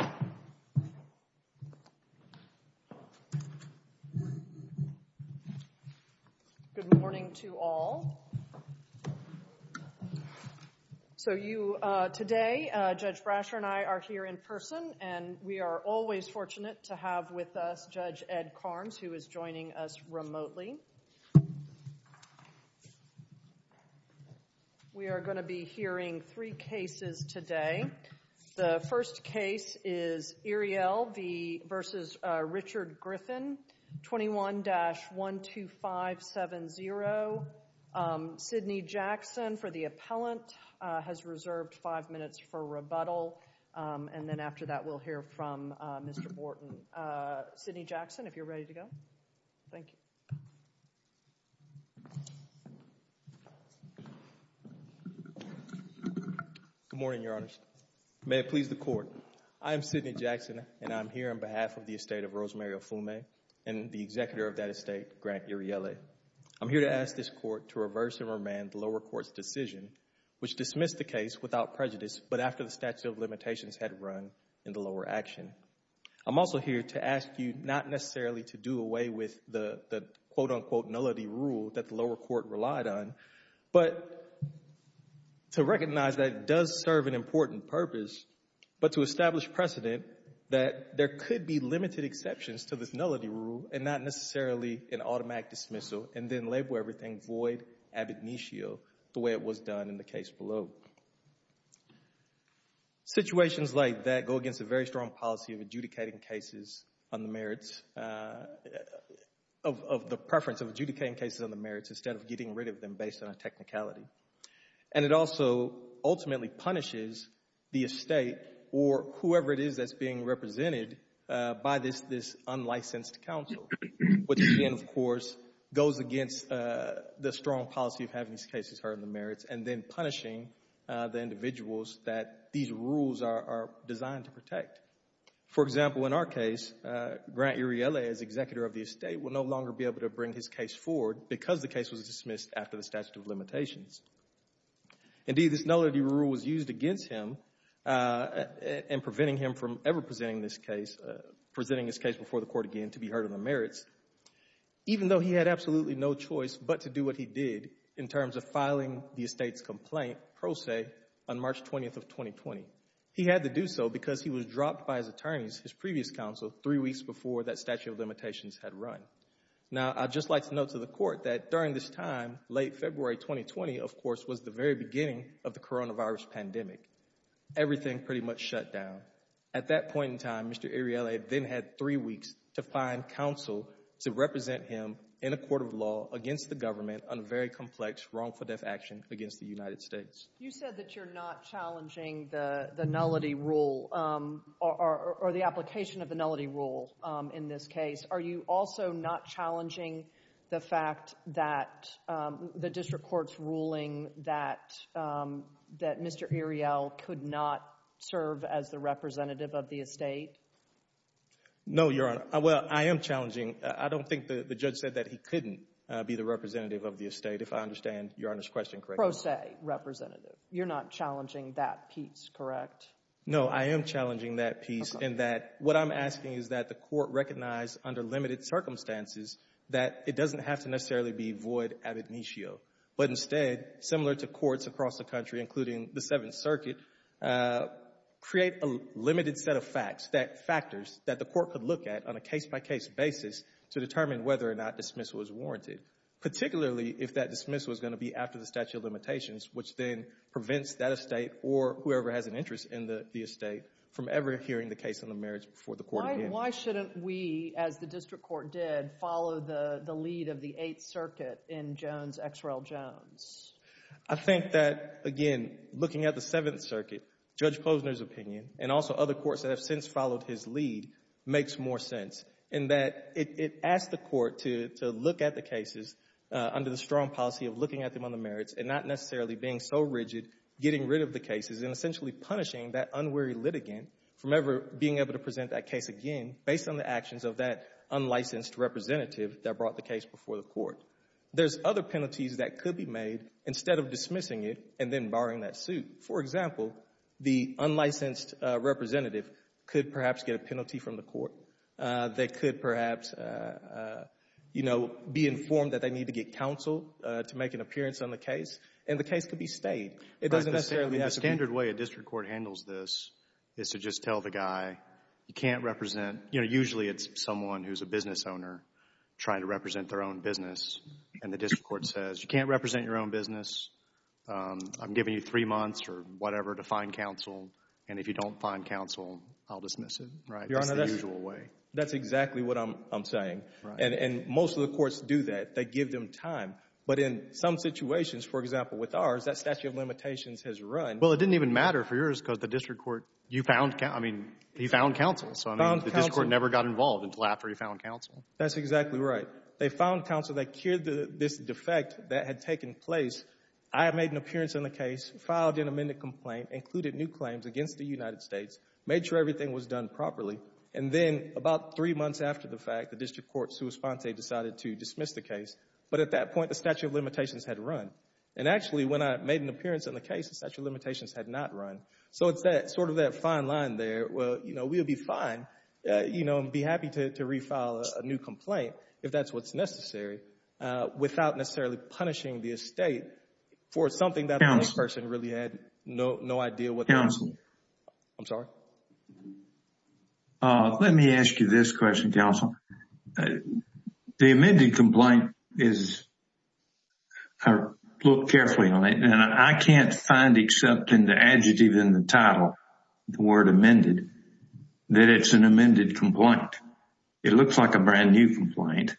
Good morning to all. So you today Judge Brasher and I are here in person and we are always fortunate to have with us Judge Ed Karnes who is joining us remotely. We are going to be hearing three cases today. The first case is Iriele v. Richard Griffin 21-12570. Sydney Jackson for the appellant has reserved five minutes for rebuttal and then after that we'll hear from Mr. Morton. Sydney Jackson if you're ready to go. Thank you. Sydney Jackson Good morning, Your Honor. May it please the court. I'm Sydney Jackson and I'm here on behalf of the estate of Rosemary Ofume and the executor of that estate, Grant Iriele. I'm here to ask this court to reverse and remand the lower court's decision which dismissed the case without prejudice but after the statute of limitations had run in the lower action. I'm also here to ask you not necessarily to do away with the quote-unquote nullity rule that the lower court relied on but to recognize that it does serve an important purpose but to establish precedent that there could be limited exceptions to this nullity rule and not necessarily an automatic dismissal and then label everything void ab initio the way it was done in the case below. Situations like that go against a very strong policy of adjudicating cases on the merits, of the preference of adjudicating cases on the merits instead of getting rid of them based on a technicality and it also ultimately punishes the estate or whoever it is that's being represented by this unlicensed counsel which again of the strong policy of having these cases heard on the merits and then punishing the individuals that these rules are designed to protect. For example, in our case, Grant Iriele as executor of the estate will no longer be able to bring his case forward because the case was dismissed after the statute of limitations. Indeed, this nullity rule was used against him in preventing him from ever presenting his case before the court again to be heard on the merits even though he had absolutely no choice but to do what he did in terms of filing the estate's complaint, pro se, on March 20th of 2020. He had to do so because he was dropped by his attorneys, his previous counsel, three weeks before that statute of limitations had run. Now, I'd just like to note to the court that during this time, late February 2020, of course, was the very beginning of the coronavirus pandemic. Everything pretty much shut down. At that point in time, Mr. Iriele then had three weeks to find counsel to represent him in a court of law against the government on a very complex wrongful death action against the United States. You said that you're not challenging the nullity rule or the application of the nullity rule in this case. Are you also not challenging the fact that the district court's ruling that Mr. Iriele could not serve as the representative of the estate? No, Your Honor. Well, I am challenging. I don't think the judge said that he couldn't be the representative of the estate, if I understand Your Honor's question correctly. Pro se representative. You're not challenging that piece, correct? No, I am challenging that piece in that what I'm asking is that the court recognize under limited circumstances that it doesn't have to necessarily be void ab initio, but instead, similar to courts across the country, including the Seventh Circuit, create a limited set of facts, factors that the court could look at on a case-by-case basis to determine whether or not dismissal is warranted, particularly if that dismissal is going to be after the statute of limitations, which then prevents that estate or whoever has an interest in the estate from ever hearing the case on the merits before the court again. Why shouldn't we, as the district court did, follow the lead of the Eighth Circuit in Jones X. Rel. Jones? I think that, again, looking at the Seventh Circuit, Judge Klozner's opinion, and also other courts that have since followed his lead, makes more sense in that it asks the court to look at the cases under the strong policy of looking at them on the merits and not necessarily being so rigid, getting rid of the cases and essentially punishing that person based on the actions of that unlicensed representative that brought the case before the court. There's other penalties that could be made instead of dismissing it and then barring that suit. For example, the unlicensed representative could perhaps get a penalty from the court. They could perhaps, you know, be informed that they need to get counsel to make an appearance on the case, and the case could be stayed. It doesn't necessarily have to be— You know, usually it's someone who's a business owner trying to represent their own business, and the district court says, you can't represent your own business, I'm giving you three months or whatever to find counsel, and if you don't find counsel, I'll dismiss it. Right? That's the usual way. Your Honor, that's exactly what I'm saying, and most of the courts do that. They give them time, but in some situations, for example, with ours, that statute of limitations has run— Well, it didn't even matter for yours because the district court, you found—I mean, he found counsel. So, I mean, the district court never got involved until after he found counsel. That's exactly right. They found counsel. They cured this defect that had taken place. I made an appearance on the case, filed an amended complaint, included new claims against the United States, made sure everything was done properly, and then about three months after the fact, the district court, sua sponte, decided to dismiss the case. But at that point, the statute of limitations had run, and actually, when I made an appearance on the case, the statute of limitations had not run. So, it's that sort of that fine line there, well, you know, we'll be fine, you know, and be happy to refile a new complaint, if that's what's necessary, without necessarily punishing the estate for something that the person really had no idea what that was. Counsel. I'm sorry? Let me ask you this question, counsel. The amended complaint is, look carefully on it, and I can't find except in the adjective in the title, the word amended, that it's an amended complaint. It looks like a brand new complaint.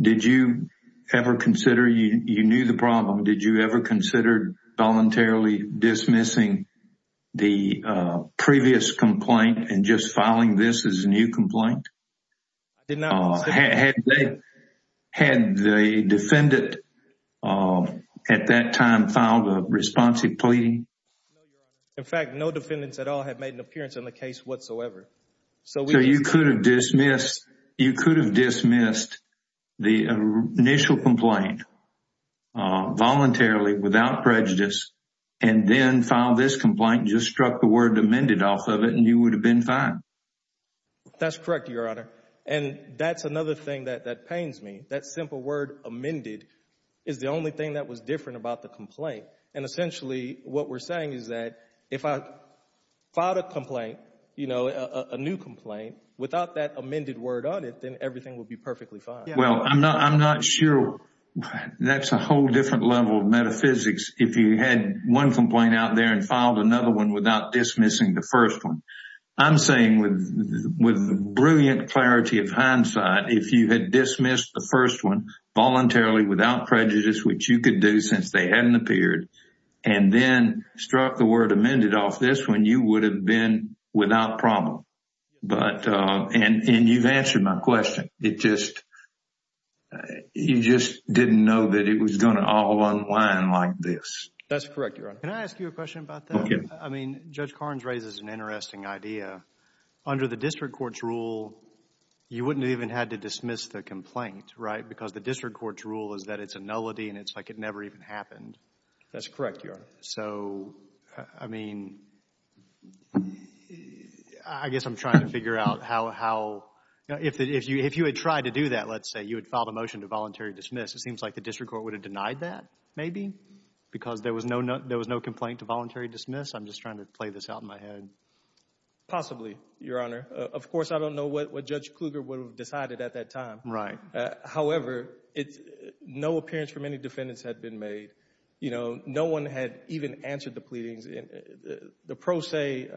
Did you ever consider, you knew the problem, did you ever consider voluntarily dismissing the previous complaint and just filing this as a new complaint? I did not. Had the defendant at that time filed a responsive plea? No, your honor. In fact, no defendants at all have made an appearance on the case whatsoever. So you could have dismissed, you could have dismissed the initial complaint voluntarily, without prejudice, and then filed this complaint and just struck the word amended off of it and you would have been fine. That's correct, your honor. And that's another thing that pains me. That simple word amended is the only thing that was different about the complaint. And essentially, what we're saying is that if I filed a complaint, you know, a new complaint, without that amended word on it, then everything would be perfectly fine. Well, I'm not sure. That's a whole different level of metaphysics. If you had one complaint out there and filed another one without dismissing the first one. I'm saying with brilliant clarity of hindsight, if you had dismissed the first one voluntarily, without prejudice, which you could do since they hadn't appeared, and then struck the word amended off this one, you would have been without problem. But and you've answered my question. It just, you just didn't know that it was going to all unwind like this. That's correct, your honor. Can I ask you a question about that? Okay. I mean, Judge Carnes raises an interesting idea. Under the district court's rule, you wouldn't have even had to dismiss the complaint, right? Because the district court's rule is that it's a nullity and it's like it never even happened. That's correct, your honor. So, I mean, I guess I'm trying to figure out how, if you had tried to do that, let's say, you had filed a motion to voluntary dismiss, it seems like the district court would have denied that, maybe? Because there was no complaint to voluntary dismiss? I'm just trying to play this out in my head. Possibly, your honor. Of course, I don't know what Judge Kluger would have decided at that time. Right. However, no appearance from any defendants had been made. You know, no one had even answered the pleadings. The pro se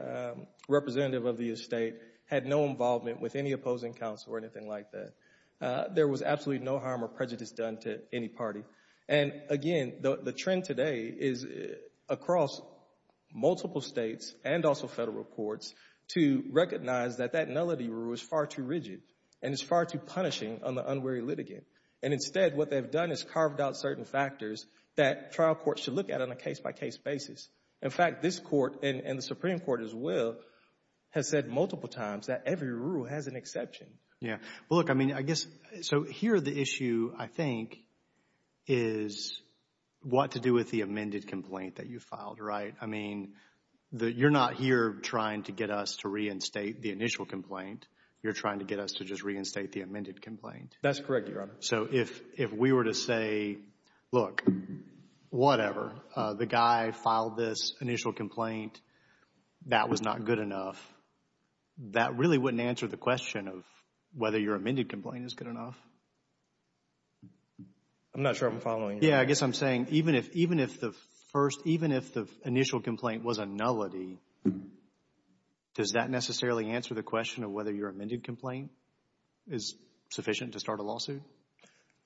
representative of the estate had no involvement with any opposing counsel or anything like that. There was absolutely no harm or prejudice done to any party. And again, the trend today is across multiple states and also federal courts to recognize that that nullity rule is far too rigid and is far too punishing on the unwary litigant. And instead, what they've done is carved out certain factors that trial courts should look at on a case-by-case basis. In fact, this court, and the Supreme Court as well, has said multiple times that every rule has an exception. Yeah. Look, I mean, I guess, so here the issue, I think, is what to do with the amended complaint that you filed, right? I mean, you're not here trying to get us to reinstate the initial complaint. You're trying to get us to just reinstate the amended complaint. That's correct, your honor. So, if we were to say, look, whatever, the guy filed this initial complaint, that was not good enough, that really wouldn't answer the question of whether your amended complaint is good enough. I'm not sure I'm following you. Yeah, I guess I'm saying even if the initial complaint was a nullity, does that necessarily answer the question of whether your amended complaint is sufficient to start a lawsuit?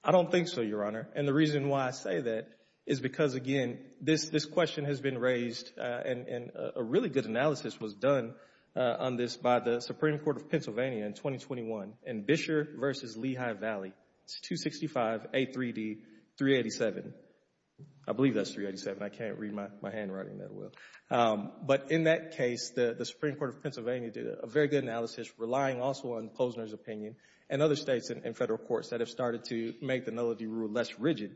I don't think so, your honor. And the reason why I say that is because, again, this question has been raised, and a really good analysis was done on this by the Supreme Court of Pennsylvania in 2021 in Bisher v. Lehigh Valley. It's 265A3D387. I believe that's 387. I can't read my handwriting that well. But in that case, the Supreme Court of Pennsylvania did a very good analysis, relying also on Posner's opinion and other states and federal courts that have started to make the nullity rule less rigid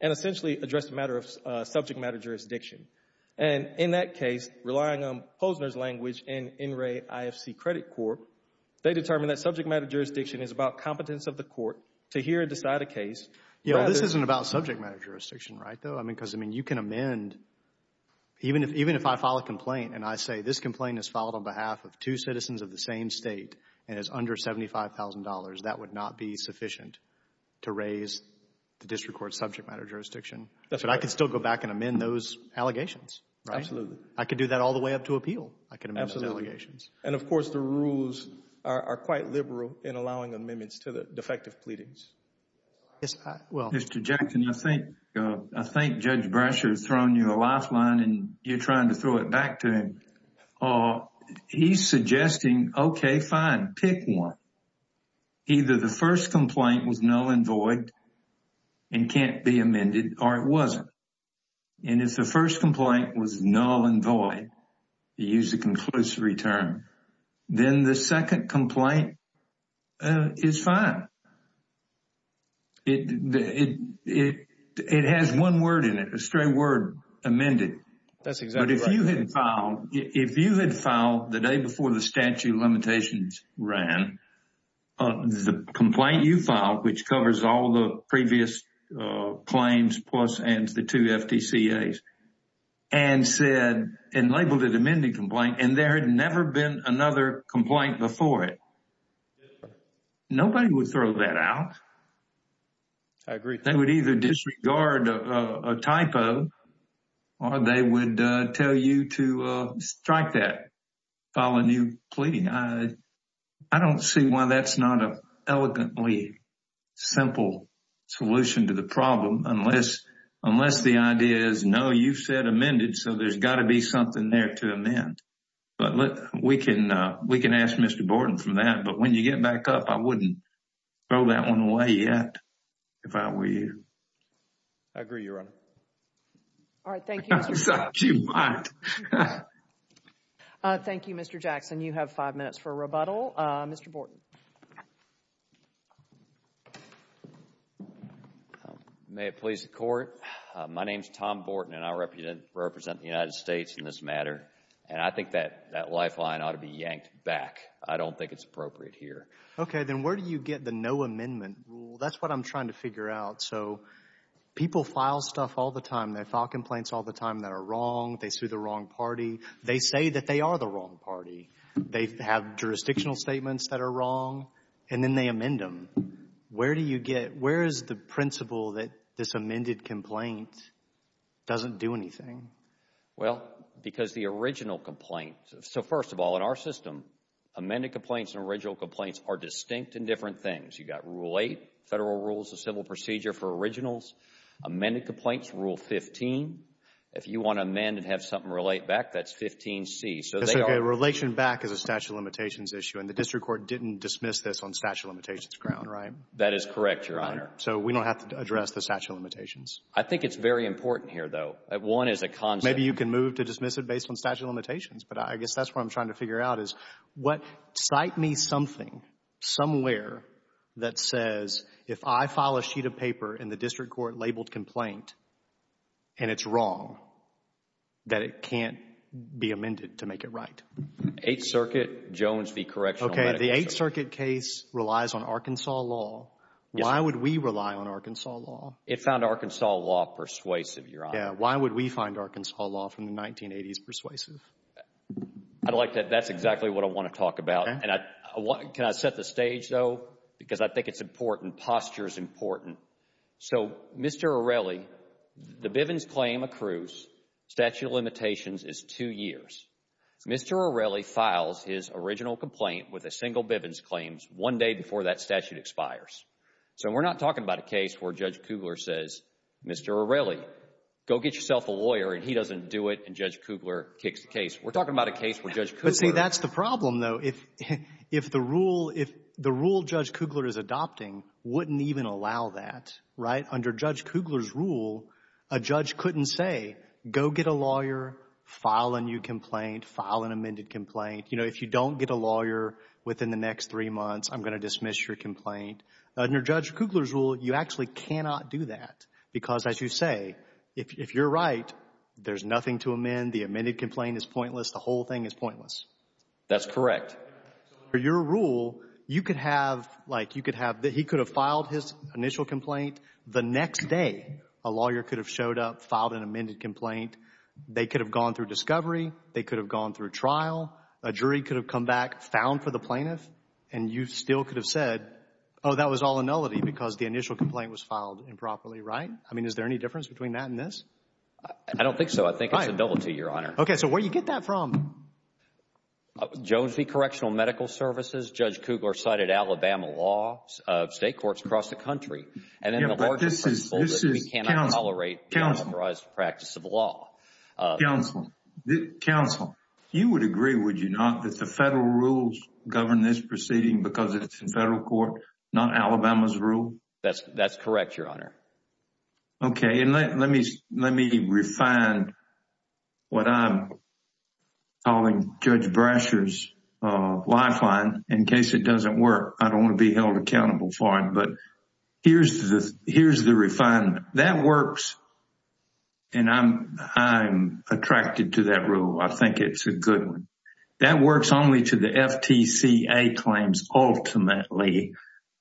and essentially address the matter of subject matter jurisdiction. And in that case, relying on Posner's language and NRAE IFC Credit Court, they determined that subject matter jurisdiction is about competence of the court to hear and decide a case. You know, this isn't about subject matter jurisdiction, right, though? I mean, because, I mean, you can amend, even if I file a complaint and I say, this complaint is filed on behalf of two citizens of the same state and is under $75,000, that would not be sufficient to raise the district court's subject matter jurisdiction. But I could still go back and amend those allegations, right? Absolutely. I could do that all the way up to appeal. I could amend those allegations. And, of course, the rules are quite liberal in allowing amendments to the defective pleadings. Yes, I will. Mr. Jackson, I think, I think Judge Brasher has thrown you a lifeline and you're trying to throw it back to him. He's suggesting, OK, fine, pick one. Either the first complaint was null and void and can't be amended or it wasn't. And if the first complaint was null and void, you use the conclusive return, then the second complaint is fine. It has one word in it, a straight word, amended. That's exactly right. But if you had filed, if you had filed the day before the statute of limitations ran, the complaint you filed, which covers all the previous claims plus and the two FTCAs, and said and labeled it amended complaint and there had never been another complaint before it. Nobody would throw that out. I agree. They would either disregard a typo or they would tell you to strike that, file a new plea. I don't see why that's not an elegantly simple solution to the problem unless the idea is, no, you said amended. So there's got to be something there to amend. But we can ask Mr. Borden for that. But when you get back up, I wouldn't throw that one away yet. If I were you. I agree, Your Honor. All right. Thank you. Thank you, Mr. Jackson. You have five minutes for rebuttal. Mr. Borden. May it please the Court. My name is Tom Borden and I represent the United States in this matter. And I think that that lifeline ought to be yanked back. I don't think it's appropriate here. Okay. Then where do you get the no amendment rule? That's what I'm trying to figure out. So people file stuff all the time. They file complaints all the time that are wrong. They sue the wrong party. They say that they are the wrong party. They have jurisdictional statements that are wrong. And then they amend them. Where do you get, where is the principle that this amended complaint doesn't do anything? Well, because the original complaint. So first of all, in our system, amended complaints and original complaints are distinct and different things. You've got Rule 8, Federal Rules of Civil Procedure for originals. Amended complaints, Rule 15. If you want to amend and have something relate back, that's 15C. So a relation back is a statute of limitations issue. And the district court didn't dismiss this on statute of limitations ground, right? That is correct, Your Honor. So we don't have to address the statute of limitations. I think it's very important here, though. One is a concept. Maybe you can move to dismiss it based on statute of limitations. But I guess that's what I'm trying to figure out is what, cite me something, somewhere that says, if I file a sheet of paper in the district court labeled complaint, and it's wrong, that it can't be amended to make it right. Eighth Circuit, Jones v. Correctional Medicine. Okay, the Eighth Circuit case relies on Arkansas law. Why would we rely on Arkansas law? It found Arkansas law persuasive, Your Honor. Yeah, why would we find Arkansas law from the 1980s persuasive? I'd like to, that's exactly what I want to talk about. And can I set the stage, though? Because I think it's important. Posture is important. So, Mr. Arelli, the Bivens claim accrues statute of limitations is two years. Mr. Arelli files his original complaint with a single Bivens claims one day before that statute expires. So we're not talking about a case where Judge Kugler says, Mr. Arelli, go get yourself a lawyer, and he doesn't do it, and Judge Kugler kicks the case. We're talking about a case where Judge Kugler. But see, that's the problem, though. If the rule, if the rule Judge Kugler is adopting wouldn't even allow that, right? Under Judge Kugler's rule, a judge couldn't say, go get a lawyer, file a new complaint, file an amended complaint. You know, if you don't get a lawyer within the next three months, I'm going to dismiss your complaint. Under Judge Kugler's rule, you actually cannot do that. Because as you say, if you're right, there's nothing to amend. The amended complaint is pointless. The whole thing is pointless. That's correct. Under your rule, you could have, like, you could have, he could have filed his initial complaint. The next day, a lawyer could have showed up, filed an amended complaint. They could have gone through discovery. They could have gone through trial. A jury could have come back, found for the plaintiff, and you still could have said, oh, that was all a nullity because the initial complaint was filed improperly, right? I mean, is there any difference between that and this? I don't think so. I think it's a double T, Your Honor. Okay, so where do you get that from? Jones v. Correctional Medical Services. Judge Kugler cited Alabama laws of state courts across the country. And in the larger principle that we cannot tolerate unauthorized practice of law. Counsel, counsel, you would agree, would you not, that the federal rules govern this proceeding because it's in federal court, not Alabama's rule? That's correct, Your Honor. Okay, and let me refine what I'm calling Judge Brasher's lifeline in case it doesn't work. I don't want to be held accountable for it. But here's the refinement. That works, and I'm attracted to that rule. I think it's a good one. That works only to the FTCA claims ultimately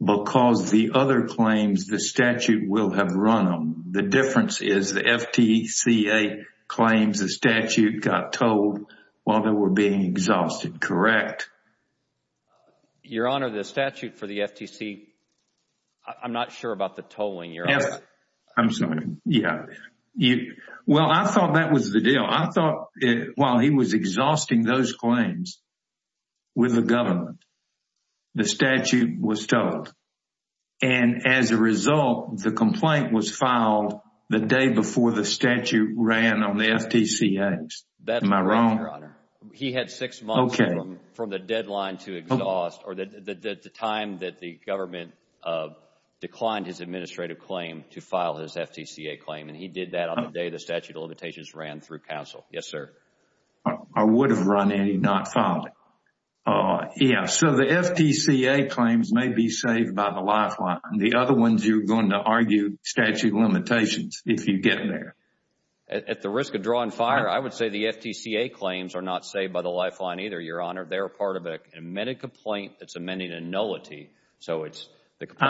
because the other claims, the statute will have run them. The difference is the FTCA claims, the statute got told while they were being exhausted, correct? Your Honor, the statute for the FTC, I'm not sure about the tolling, Your Honor. I'm sorry. Yeah. Well, I thought that was the deal. I thought while he was exhausting those claims with the government, the statute was told. And as a result, the complaint was filed the day before the statute ran on the FTCA. Am I wrong? That's correct, Your Honor. He had six months from the deadline to exhaust or the time that the government declined his administrative claim to file his FTCA claim. And he did that on the day the statute of limitations ran through counsel. Yes, sir. I would have run it and not filed it. Yeah, so the FTCA claims may be saved by the lifeline. The other ones you're going to argue statute of limitations if you get there. At the risk of drawing fire, I would say the FTCA claims are not saved by the lifeline either, Your Honor. They're part of an amended complaint that's amending a nullity. I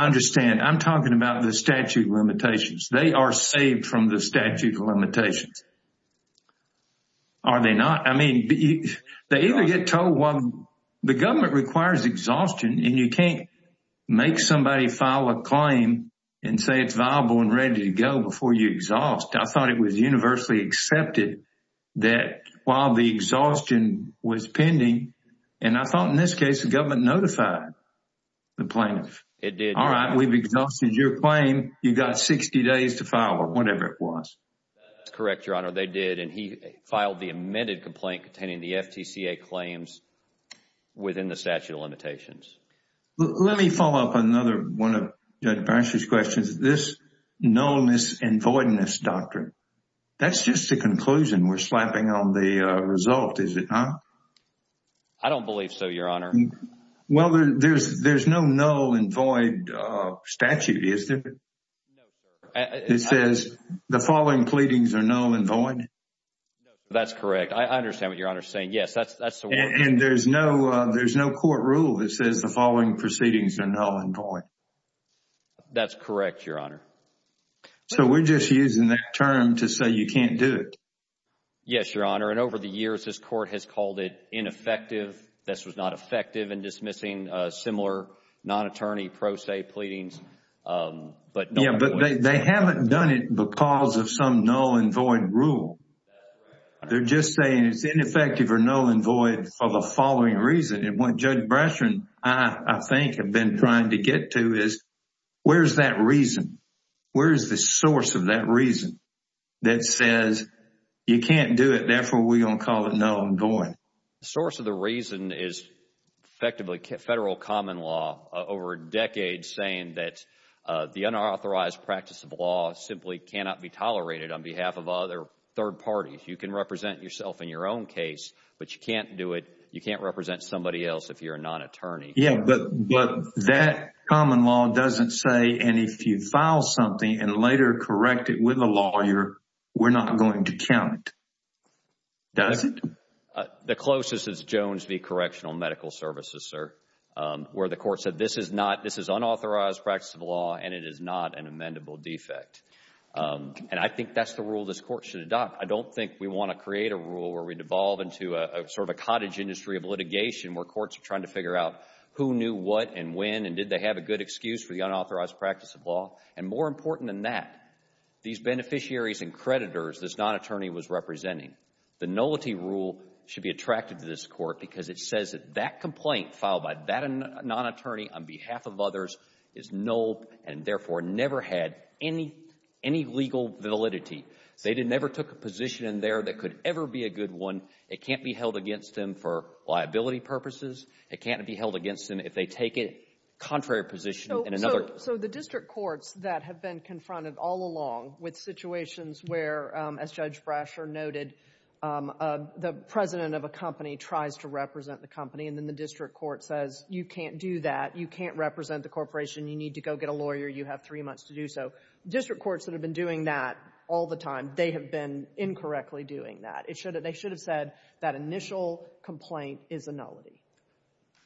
understand. I'm talking about the statute of limitations. They are saved from the statute of limitations. Are they not? I mean, they either get told while the government requires exhaustion and you can't make somebody file a claim and say it's viable and ready to go before you exhaust. I thought it was universally accepted that while the exhaustion was pending, and I thought in this case, the government notified the plaintiff. It did. All right, we've exhausted your claim. You got 60 days to file it, whatever it was. That's correct, Your Honor. They did, and he filed the amended complaint containing the FTCA claims within the statute of limitations. Let me follow up another one of Judge Brash's questions. This nullness and voidness doctrine, that's just a conclusion. We're slapping on the result, is it not? I don't believe so, Your Honor. Well, there's no null and void statute, is there? No, sir. It says the following pleadings are null and void. That's correct. I understand what Your Honor is saying. Yes, that's the word. And there's no court rule that says the following proceedings are null and void. That's correct, Your Honor. So we're just using that term to say you can't do it. Yes, Your Honor, and over the years, this court has called it ineffective. This was not effective in dismissing similar non-attorney pro se pleadings. Yeah, but they haven't done it because of some null and void rule. They're just saying it's ineffective or null and void for the following reason. And what Judge Brash and I, I think, have been trying to get to is where's that reason? Where's the source of that reason that says you can't do it, therefore, we're going to call it null and void? The source of the reason is effectively federal common law over decades saying that the unauthorized practice of law simply cannot be tolerated on behalf of other third parties. You can represent yourself in your own case, but you can't do it, you can't represent somebody else if you're a non-attorney. Yeah, but that common law doesn't say, and if you file something and later correct it with a lawyer, we're not going to count it. Does it? The closest is Jones v. Correctional Medical Services, sir, where the court said this is not, this is unauthorized practice of law and it is not an amendable defect. And I think that's the rule this court should adopt. I don't think we want to create a rule where we devolve into a sort of a cottage industry of litigation where courts are trying to figure out who knew what and when and did they have a good excuse for the unauthorized practice of law. And more important than that, these beneficiaries and creditors this non-attorney was representing, the nullity rule should be attracted to this court because it says that that complaint filed by that non-attorney on behalf of others is null and therefore never had any legal validity. They never took a position in there that could ever be a good one. It can't be held against them for liability purposes. It can't be held against them if they take a contrary position in another. So the district courts that have been confronted all along with situations where, as Judge Brasher noted, the president of a company tries to represent the company and then the district court says you can't do that, you can't represent the corporation, you need to go get a lawyer, you have three months to do so. District courts that have been doing that all the time, they have been incorrectly doing that. They should have said that initial complaint is a nullity.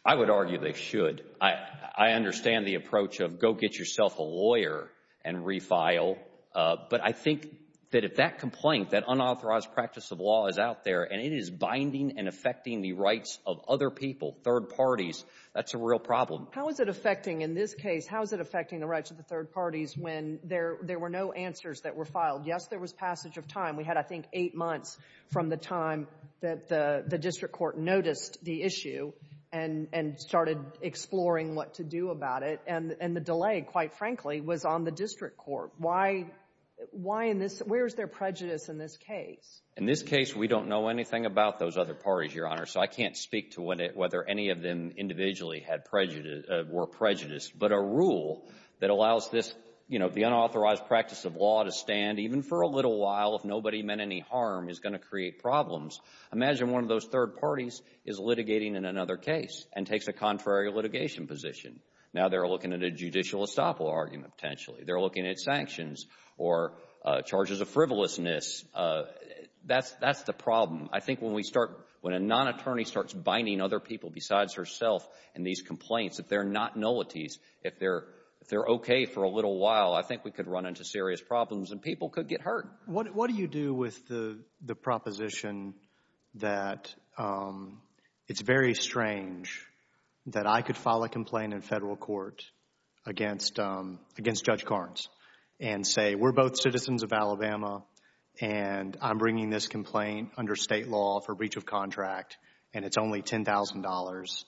I would argue they should. I understand the approach of go get yourself a lawyer and refile. But I think that if that complaint, that unauthorized practice of law is out there and it is binding and affecting the rights of other people, third parties, that's a real problem. How is it affecting, in this case, how is it affecting the rights of the third parties when there were no answers that were filed? Yes, there was passage of time. We had, I think, eight months from the time that the district court noticed the issue and started exploring what to do about it. And the delay, quite frankly, was on the district court. Why in this — where is there prejudice in this case? In this case, we don't know anything about those other parties, Your Honor, so I can't speak to whether any of them individually were prejudiced. But a rule that allows this, you know, the unauthorized practice of law to stand, even for a little while, if nobody meant any harm, is going to create problems. Imagine one of those third parties is litigating in another case and takes a contrary litigation position. Now they're looking at a judicial estoppel argument, potentially. They're looking at sanctions or charges of frivolousness. That's the problem. I think when we start — when a non-attorney starts binding other people besides herself in these complaints, if they're not nullities, if they're okay for a little while, I think we could run into serious problems and people could get hurt. What do you do with the proposition that it's very strange that I could file a complaint in federal court against Judge Carnes and say, we're both citizens of Alabama and I'm bringing this complaint under state law for breach of contract and it's only $10,000,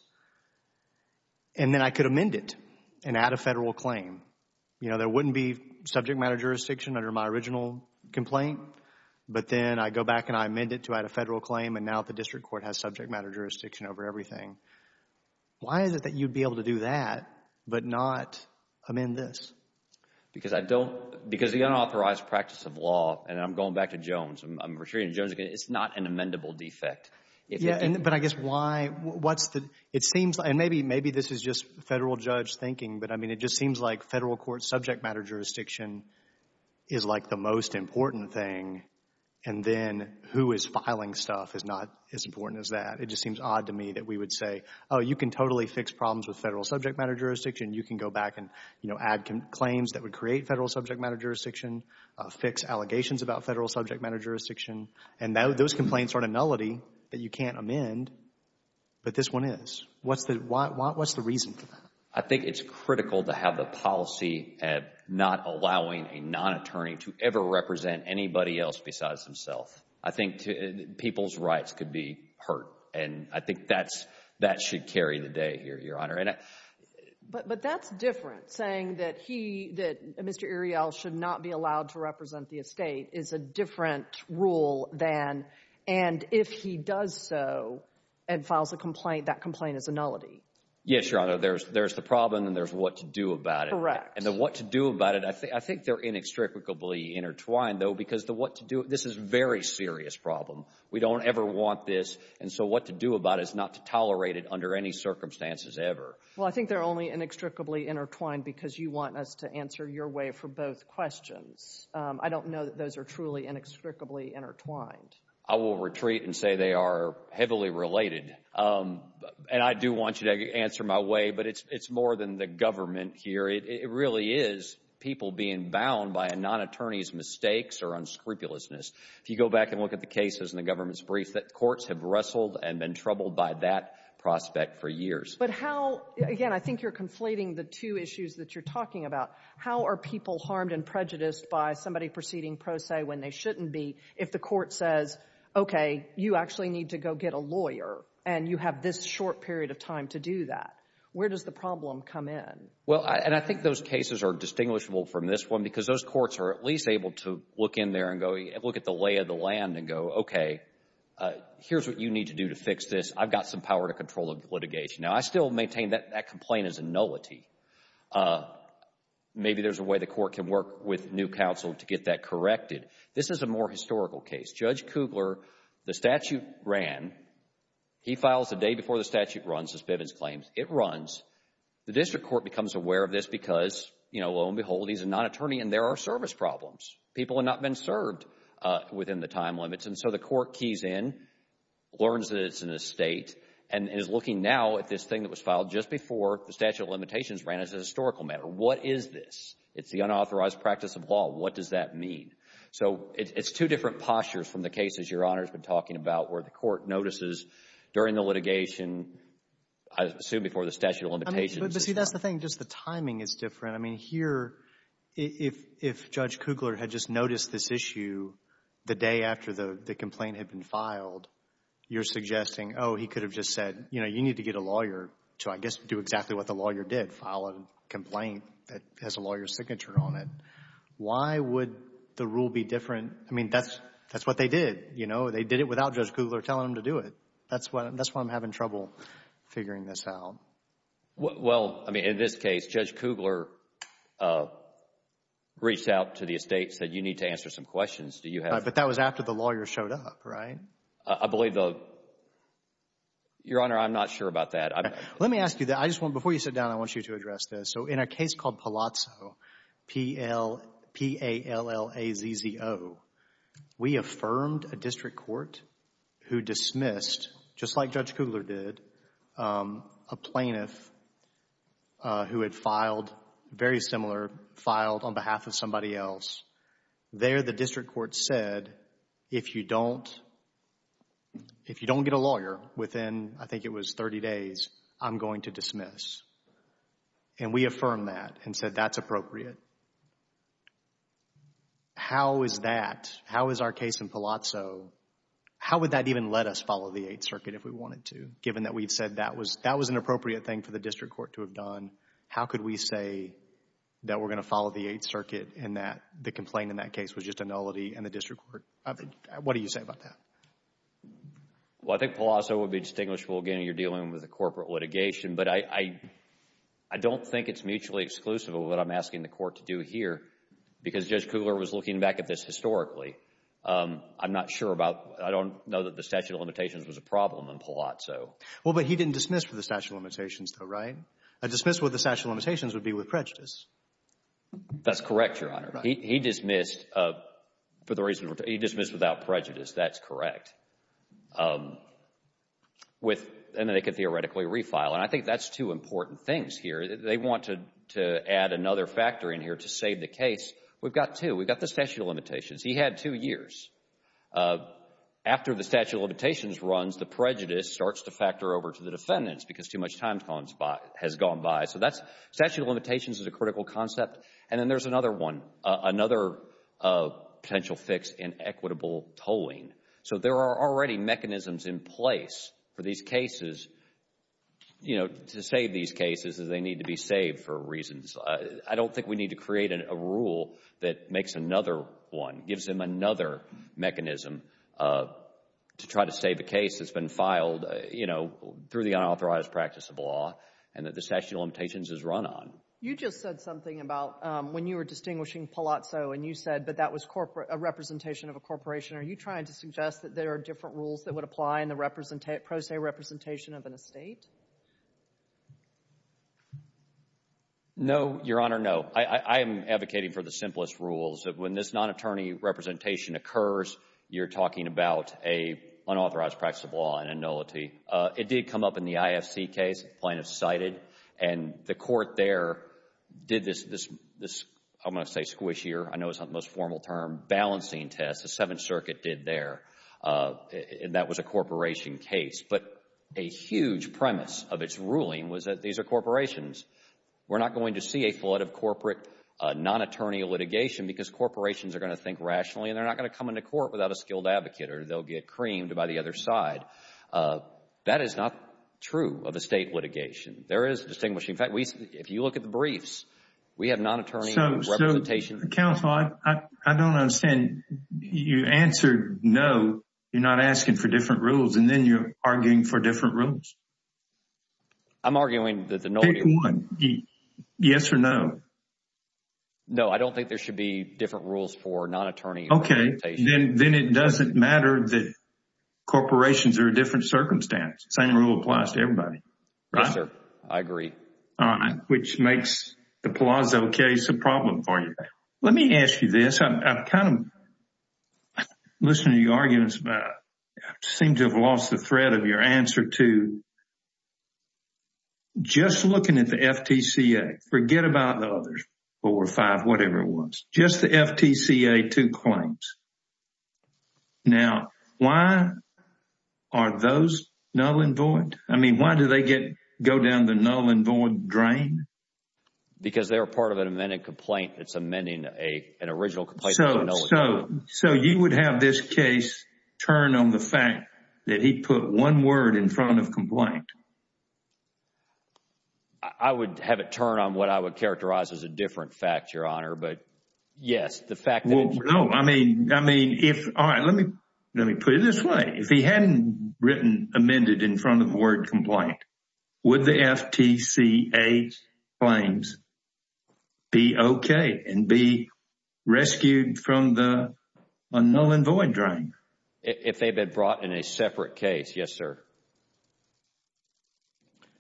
and then I could amend it and add a federal claim? You know, there wouldn't be subject matter jurisdiction under my original complaint, but then I go back and I amend it to add a federal claim and now the district court has subject matter jurisdiction over everything. Why is it that you'd be able to do that but not amend this? Because I don't — because the unauthorized practice of law — and I'm going back to Jones. I'm retreating to Jones again. It's not an amendable defect. Yeah, but I guess why — what's the — it seems — and maybe this is just federal judge thinking, but I mean it just seems like federal court subject matter jurisdiction is like the most important thing, and then who is filing stuff is not as important as that. It just seems odd to me that we would say, oh, you can totally fix problems with federal subject matter jurisdiction. You can go back and, you know, add claims that would create federal subject matter jurisdiction, fix allegations about federal subject matter jurisdiction, and those complaints aren't a nullity that you can't amend, but this one is. What's the reason for that? I think it's critical to have the policy of not allowing a non-attorney to ever represent anybody else besides himself. I think people's rights could be hurt, and I think that should carry the day here, Your Honor. But that's different, saying that he — that Mr. Areal should not be allowed to represent the estate is a different rule than, and if he does so and files a complaint, that complaint is a nullity. Yes, Your Honor. There's the problem, and there's what to do about it. Correct. And the what to do about it, I think they're inextricably intertwined, though, because the what to do — this is a very serious problem. We don't ever want this, and so what to do about it is not to tolerate it under any circumstances ever. Well, I think they're only inextricably intertwined because you want us to answer your way for both questions. I don't know that those are truly inextricably intertwined. I will retreat and say they are heavily related, and I do want you to answer my way, but it's more than the government here. It really is people being bound by a non-attorney's mistakes or unscrupulousness. If you go back and look at the cases in the government's brief, the courts have wrestled and been troubled by that prospect for years. But how — again, I think you're conflating the two issues that you're talking about. How are people harmed and prejudiced by somebody proceeding pro se when they shouldn't be if the court says, okay, you actually need to go get a lawyer, and you have this short period of time to do that? Where does the problem come in? Well, and I think those cases are distinguishable from this one because those courts are at least able to look in there and look at the lay of the land and go, okay, here's what you need to do to fix this. I've got some power to control litigation. Now, I still maintain that that complaint is a nullity. Maybe there's a way the court can work with new counsel to get that corrected. This is a more historical case. Judge Kugler, the statute ran. He files the day before the statute runs, as Bivens claims. It runs. The district court becomes aware of this because, you know, lo and behold, he's a non-attorney and there are service problems. People have not been served within the time limits. And so the court keys in, learns that it's an estate, and is looking now at this thing that was filed just before the statute of limitations ran as a historical matter. What is this? It's the unauthorized practice of law. What does that mean? So it's two different postures from the cases Your Honor has been talking about where the court notices during the litigation, I assume before the statute of limitations. But, see, that's the thing. Just the timing is different. I mean, here, if Judge Kugler had just noticed this issue the day after the complaint had been filed, you're suggesting, oh, he could have just said, you know, you need to get a lawyer to, I guess, do exactly what the lawyer did, file a complaint that has a lawyer's signature on it. Why would the rule be different? I mean, that's what they did, you know. They did it without Judge Kugler telling them to do it. That's why I'm having trouble figuring this out. Well, I mean, in this case, Judge Kugler reached out to the estate, said you need to answer some questions. But that was after the lawyer showed up, right? I believe the – Your Honor, I'm not sure about that. Let me ask you that. I just want – before you sit down, I want you to address this. So, in a case called Palazzo, P-A-L-L-A-Z-Z-O, we affirmed a district court who dismissed, just like Judge Kugler did, a plaintiff who had filed, very similar, filed on behalf of somebody else. There, the district court said, if you don't get a lawyer within, I think it was 30 days, I'm going to dismiss. And we affirmed that and said that's appropriate. How is that – how is our case in Palazzo – how would that even let us follow the Eighth Circuit if we wanted to, given that we've said that was an appropriate thing for the district court to have done? How could we say that we're going to follow the Eighth Circuit and that the complaint in that case was just a nullity in the district court? What do you say about that? Well, I think Palazzo would be distinguishable, again, you're dealing with a corporate litigation. But I don't think it's mutually exclusive of what I'm asking the court to do here because Judge Kugler was looking back at this historically. I'm not sure about – I don't know that the statute of limitations was a problem in Palazzo. Well, but he didn't dismiss for the statute of limitations though, right? A dismiss with the statute of limitations would be with prejudice. That's correct, Your Honor. Right. He dismissed for the reason – he dismissed without prejudice. That's correct. With – and then they could theoretically refile. And I think that's two important things here. They wanted to add another factor in here to save the case. We've got two. We've got the statute of limitations. He had two years. After the statute of limitations runs, the prejudice starts to factor over to the defendants because too much time has gone by. So that's – statute of limitations is a critical concept. And then there's another one, another potential fix in equitable tolling. So there are already mechanisms in place for these cases to save these cases as they need to be saved for reasons. I don't think we need to create a rule that makes another one, gives them another mechanism to try to save a case that's been filed through the unauthorized practice of law and that the statute of limitations is run on. You just said something about when you were distinguishing Palazzo and you said that that was a representation of a corporation. Are you trying to suggest that there are different rules that would apply in the pro se representation of an estate? No, Your Honor, no. I am advocating for the simplest rules. When this non-attorney representation occurs, you're talking about an unauthorized practice of law, an annulity. It did come up in the IFC case. Plaintiffs cited. And the court there did this – I'm going to say squishier. I know it's not the most formal term – balancing test. The Seventh Circuit did there. And that was a corporation case. But a huge premise of its ruling was that these are corporations. We're not going to see a flood of corporate non-attorney litigation because corporations are going to think rationally and they're not going to come into court without a skilled advocate or they'll get creamed by the other side. That is not true of estate litigation. There is a distinguishing fact. If you look at the briefs, we have non-attorney representation. Counsel, I don't understand. You answered no. You're not asking for different rules and then you're arguing for different rules? I'm arguing that the non-attorney – Pick one. Yes or no. No, I don't think there should be different rules for non-attorney representation. Okay. Then it doesn't matter that corporations are a different circumstance. The same rule applies to everybody. Yes, sir. I agree. All right. Which makes the Palazzo case a problem for you. Let me ask you this. I've kind of listened to your arguments about it. I seem to have lost the thread of your answer to just looking at the FTCA. Forget about the others, four or five, whatever it was. Just the FTCA, two claims. Now, why are those null and void? I mean, why do they go down the null and void drain? Because they were part of an amended complaint. It's amending an original complaint. So you would have this case turn on the fact that he put one word in front of complaint. I would have it turn on what I would characterize as a different fact, Your Honor. But yes, the fact that it's— Well, no. I mean, if—all right. Let me put it this way. If he hadn't written amended in front of the word complaint, would the FTCA claims be okay and be rescued from the null and void drain? If they had been brought in a separate case, yes, sir.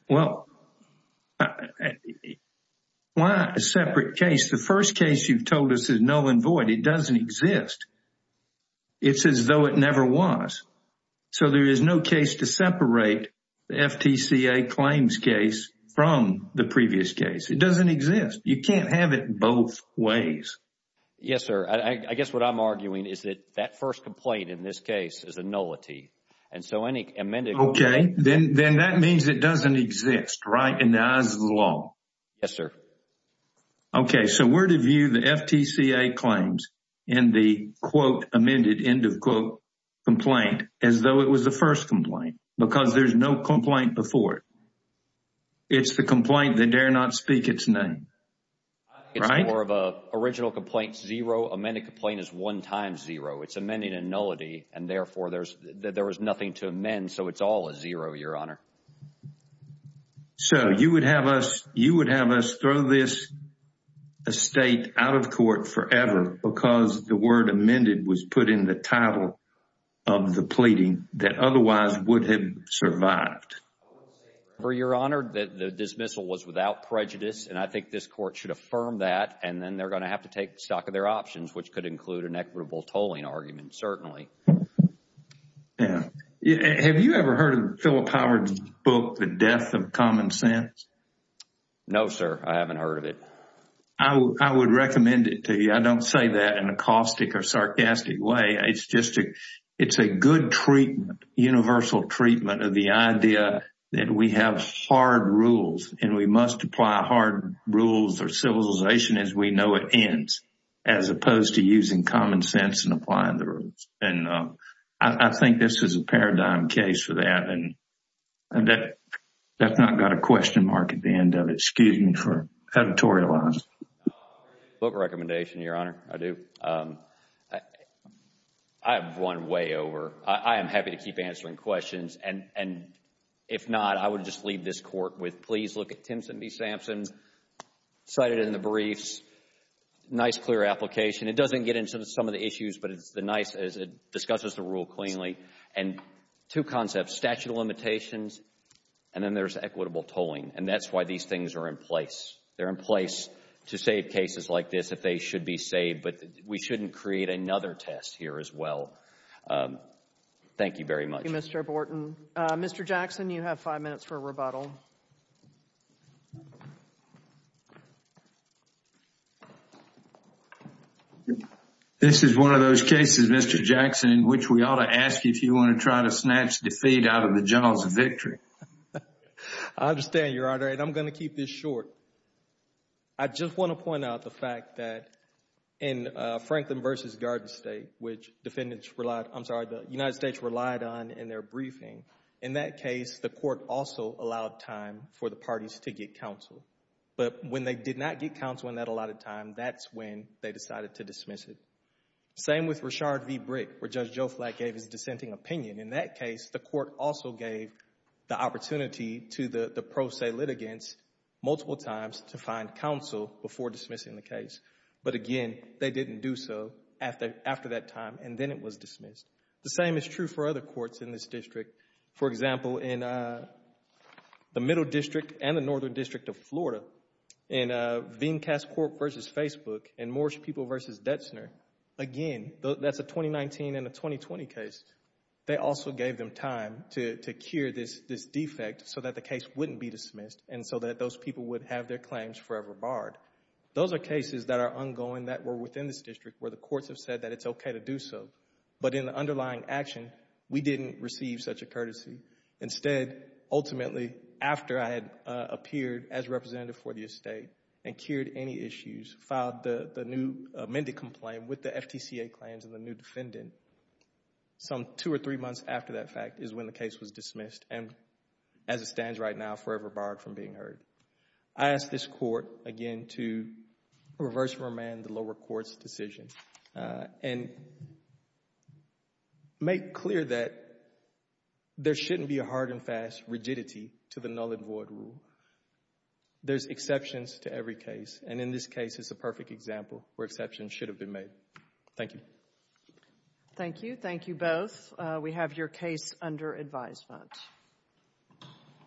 Well, why a separate case? The first case you've told us is null and void. It doesn't exist. It's as though it never was. So there is no case to separate the FTCA claims case from the previous case. It doesn't exist. You can't have it both ways. Yes, sir. I guess what I'm arguing is that that first complaint in this case is a nullity. And so any amended— Okay. Then that means it doesn't exist, right, in the eyes of the law. Yes, sir. Okay. So where do you view the FTCA claims in the, quote, amended, end of quote, complaint as though it was the first complaint because there's no complaint before it? It's the complaint that dare not speak its name, right? It's more of an original complaint, zero. Amended complaint is one times zero. It's amending a nullity, and therefore, there was nothing to amend, so it's all a zero, Your Honor. So you would have us throw this estate out of court forever because the word amended was put in the title of the pleading that otherwise would have survived. Your Honor, the dismissal was without prejudice, and I think this court should affirm that, and then they're going to have to take stock of their options, which could include an equitable tolling argument, certainly. Yeah. Have you ever heard of Philip Howard's book, The Death of Common Sense? No, sir. I haven't heard of it. I would recommend it to you. I don't say that in a caustic or sarcastic way. It's just a good treatment, universal treatment of the idea that we have hard rules, and we must apply hard rules or civilization as we know it ends as opposed to using common sense and applying the rules. I think this is a paradigm case for that, and that's not got a question mark at the end of it. Excuse me for editorializing. Book recommendation, Your Honor. I do. I have one way over. I am happy to keep answering questions, and if not, I would just leave this court with, please look at Timpson v. Sampson, cite it in the briefs. Nice, clear application. It doesn't get into some of the issues, but it's nice as it discusses the rule cleanly. And two concepts, statute of limitations, and then there's equitable tolling, and that's why these things are in place. They're in place to save cases like this if they should be saved, but we shouldn't create another test here as well. Thank you very much. Thank you, Mr. Borton. Mr. Jackson, you have five minutes for rebuttal. This is one of those cases, Mr. Jackson, in which we ought to ask you if you want to try to snatch defeat out of the jaws of victory. I understand, Your Honor, and I'm going to keep this short. I just want to point out the fact that in Franklin v. Garden State, which the United States relied on in their briefing, in that case, the court also allowed time for the parties to get counsel. But when they did not get counsel in that allotted time, that's when they decided to dismiss it. Same with Richard v. Brick, where Judge Joe Flack gave his dissenting opinion. In that case, the court also gave the opportunity to the pro se litigants multiple times to find counsel before dismissing the case. But again, they didn't do so after that time, and then it was dismissed. The same is true for other courts in this district. For example, in the Middle District and the Northern District of Florida, in Vincas Court v. Facebook and Moorish People v. Detzner, again, that's a 2019 and a 2020 case. They also gave them time to cure this defect so that the case wouldn't be dismissed and so that those people would have their claims forever barred. Those are cases that are ongoing that were within this district where the courts have said that it's okay to do so. But in the underlying action, we didn't receive such a courtesy. Instead, ultimately, after I had appeared as representative for the estate and cured any issues, filed the new amended complaint with the FTCA claims and the new defendant, some two or three months after that fact is when the case was dismissed and as it stands right now, forever barred from being heard. I ask this Court, again, to reverse remand the lower court's decision and make clear that there shouldn't be a hard and fast rigidity to the null and void rule. There's exceptions to every case, and in this case, it's a perfect example where exceptions should have been made. Thank you. Thank you. Thank you both. We have your case under advisement.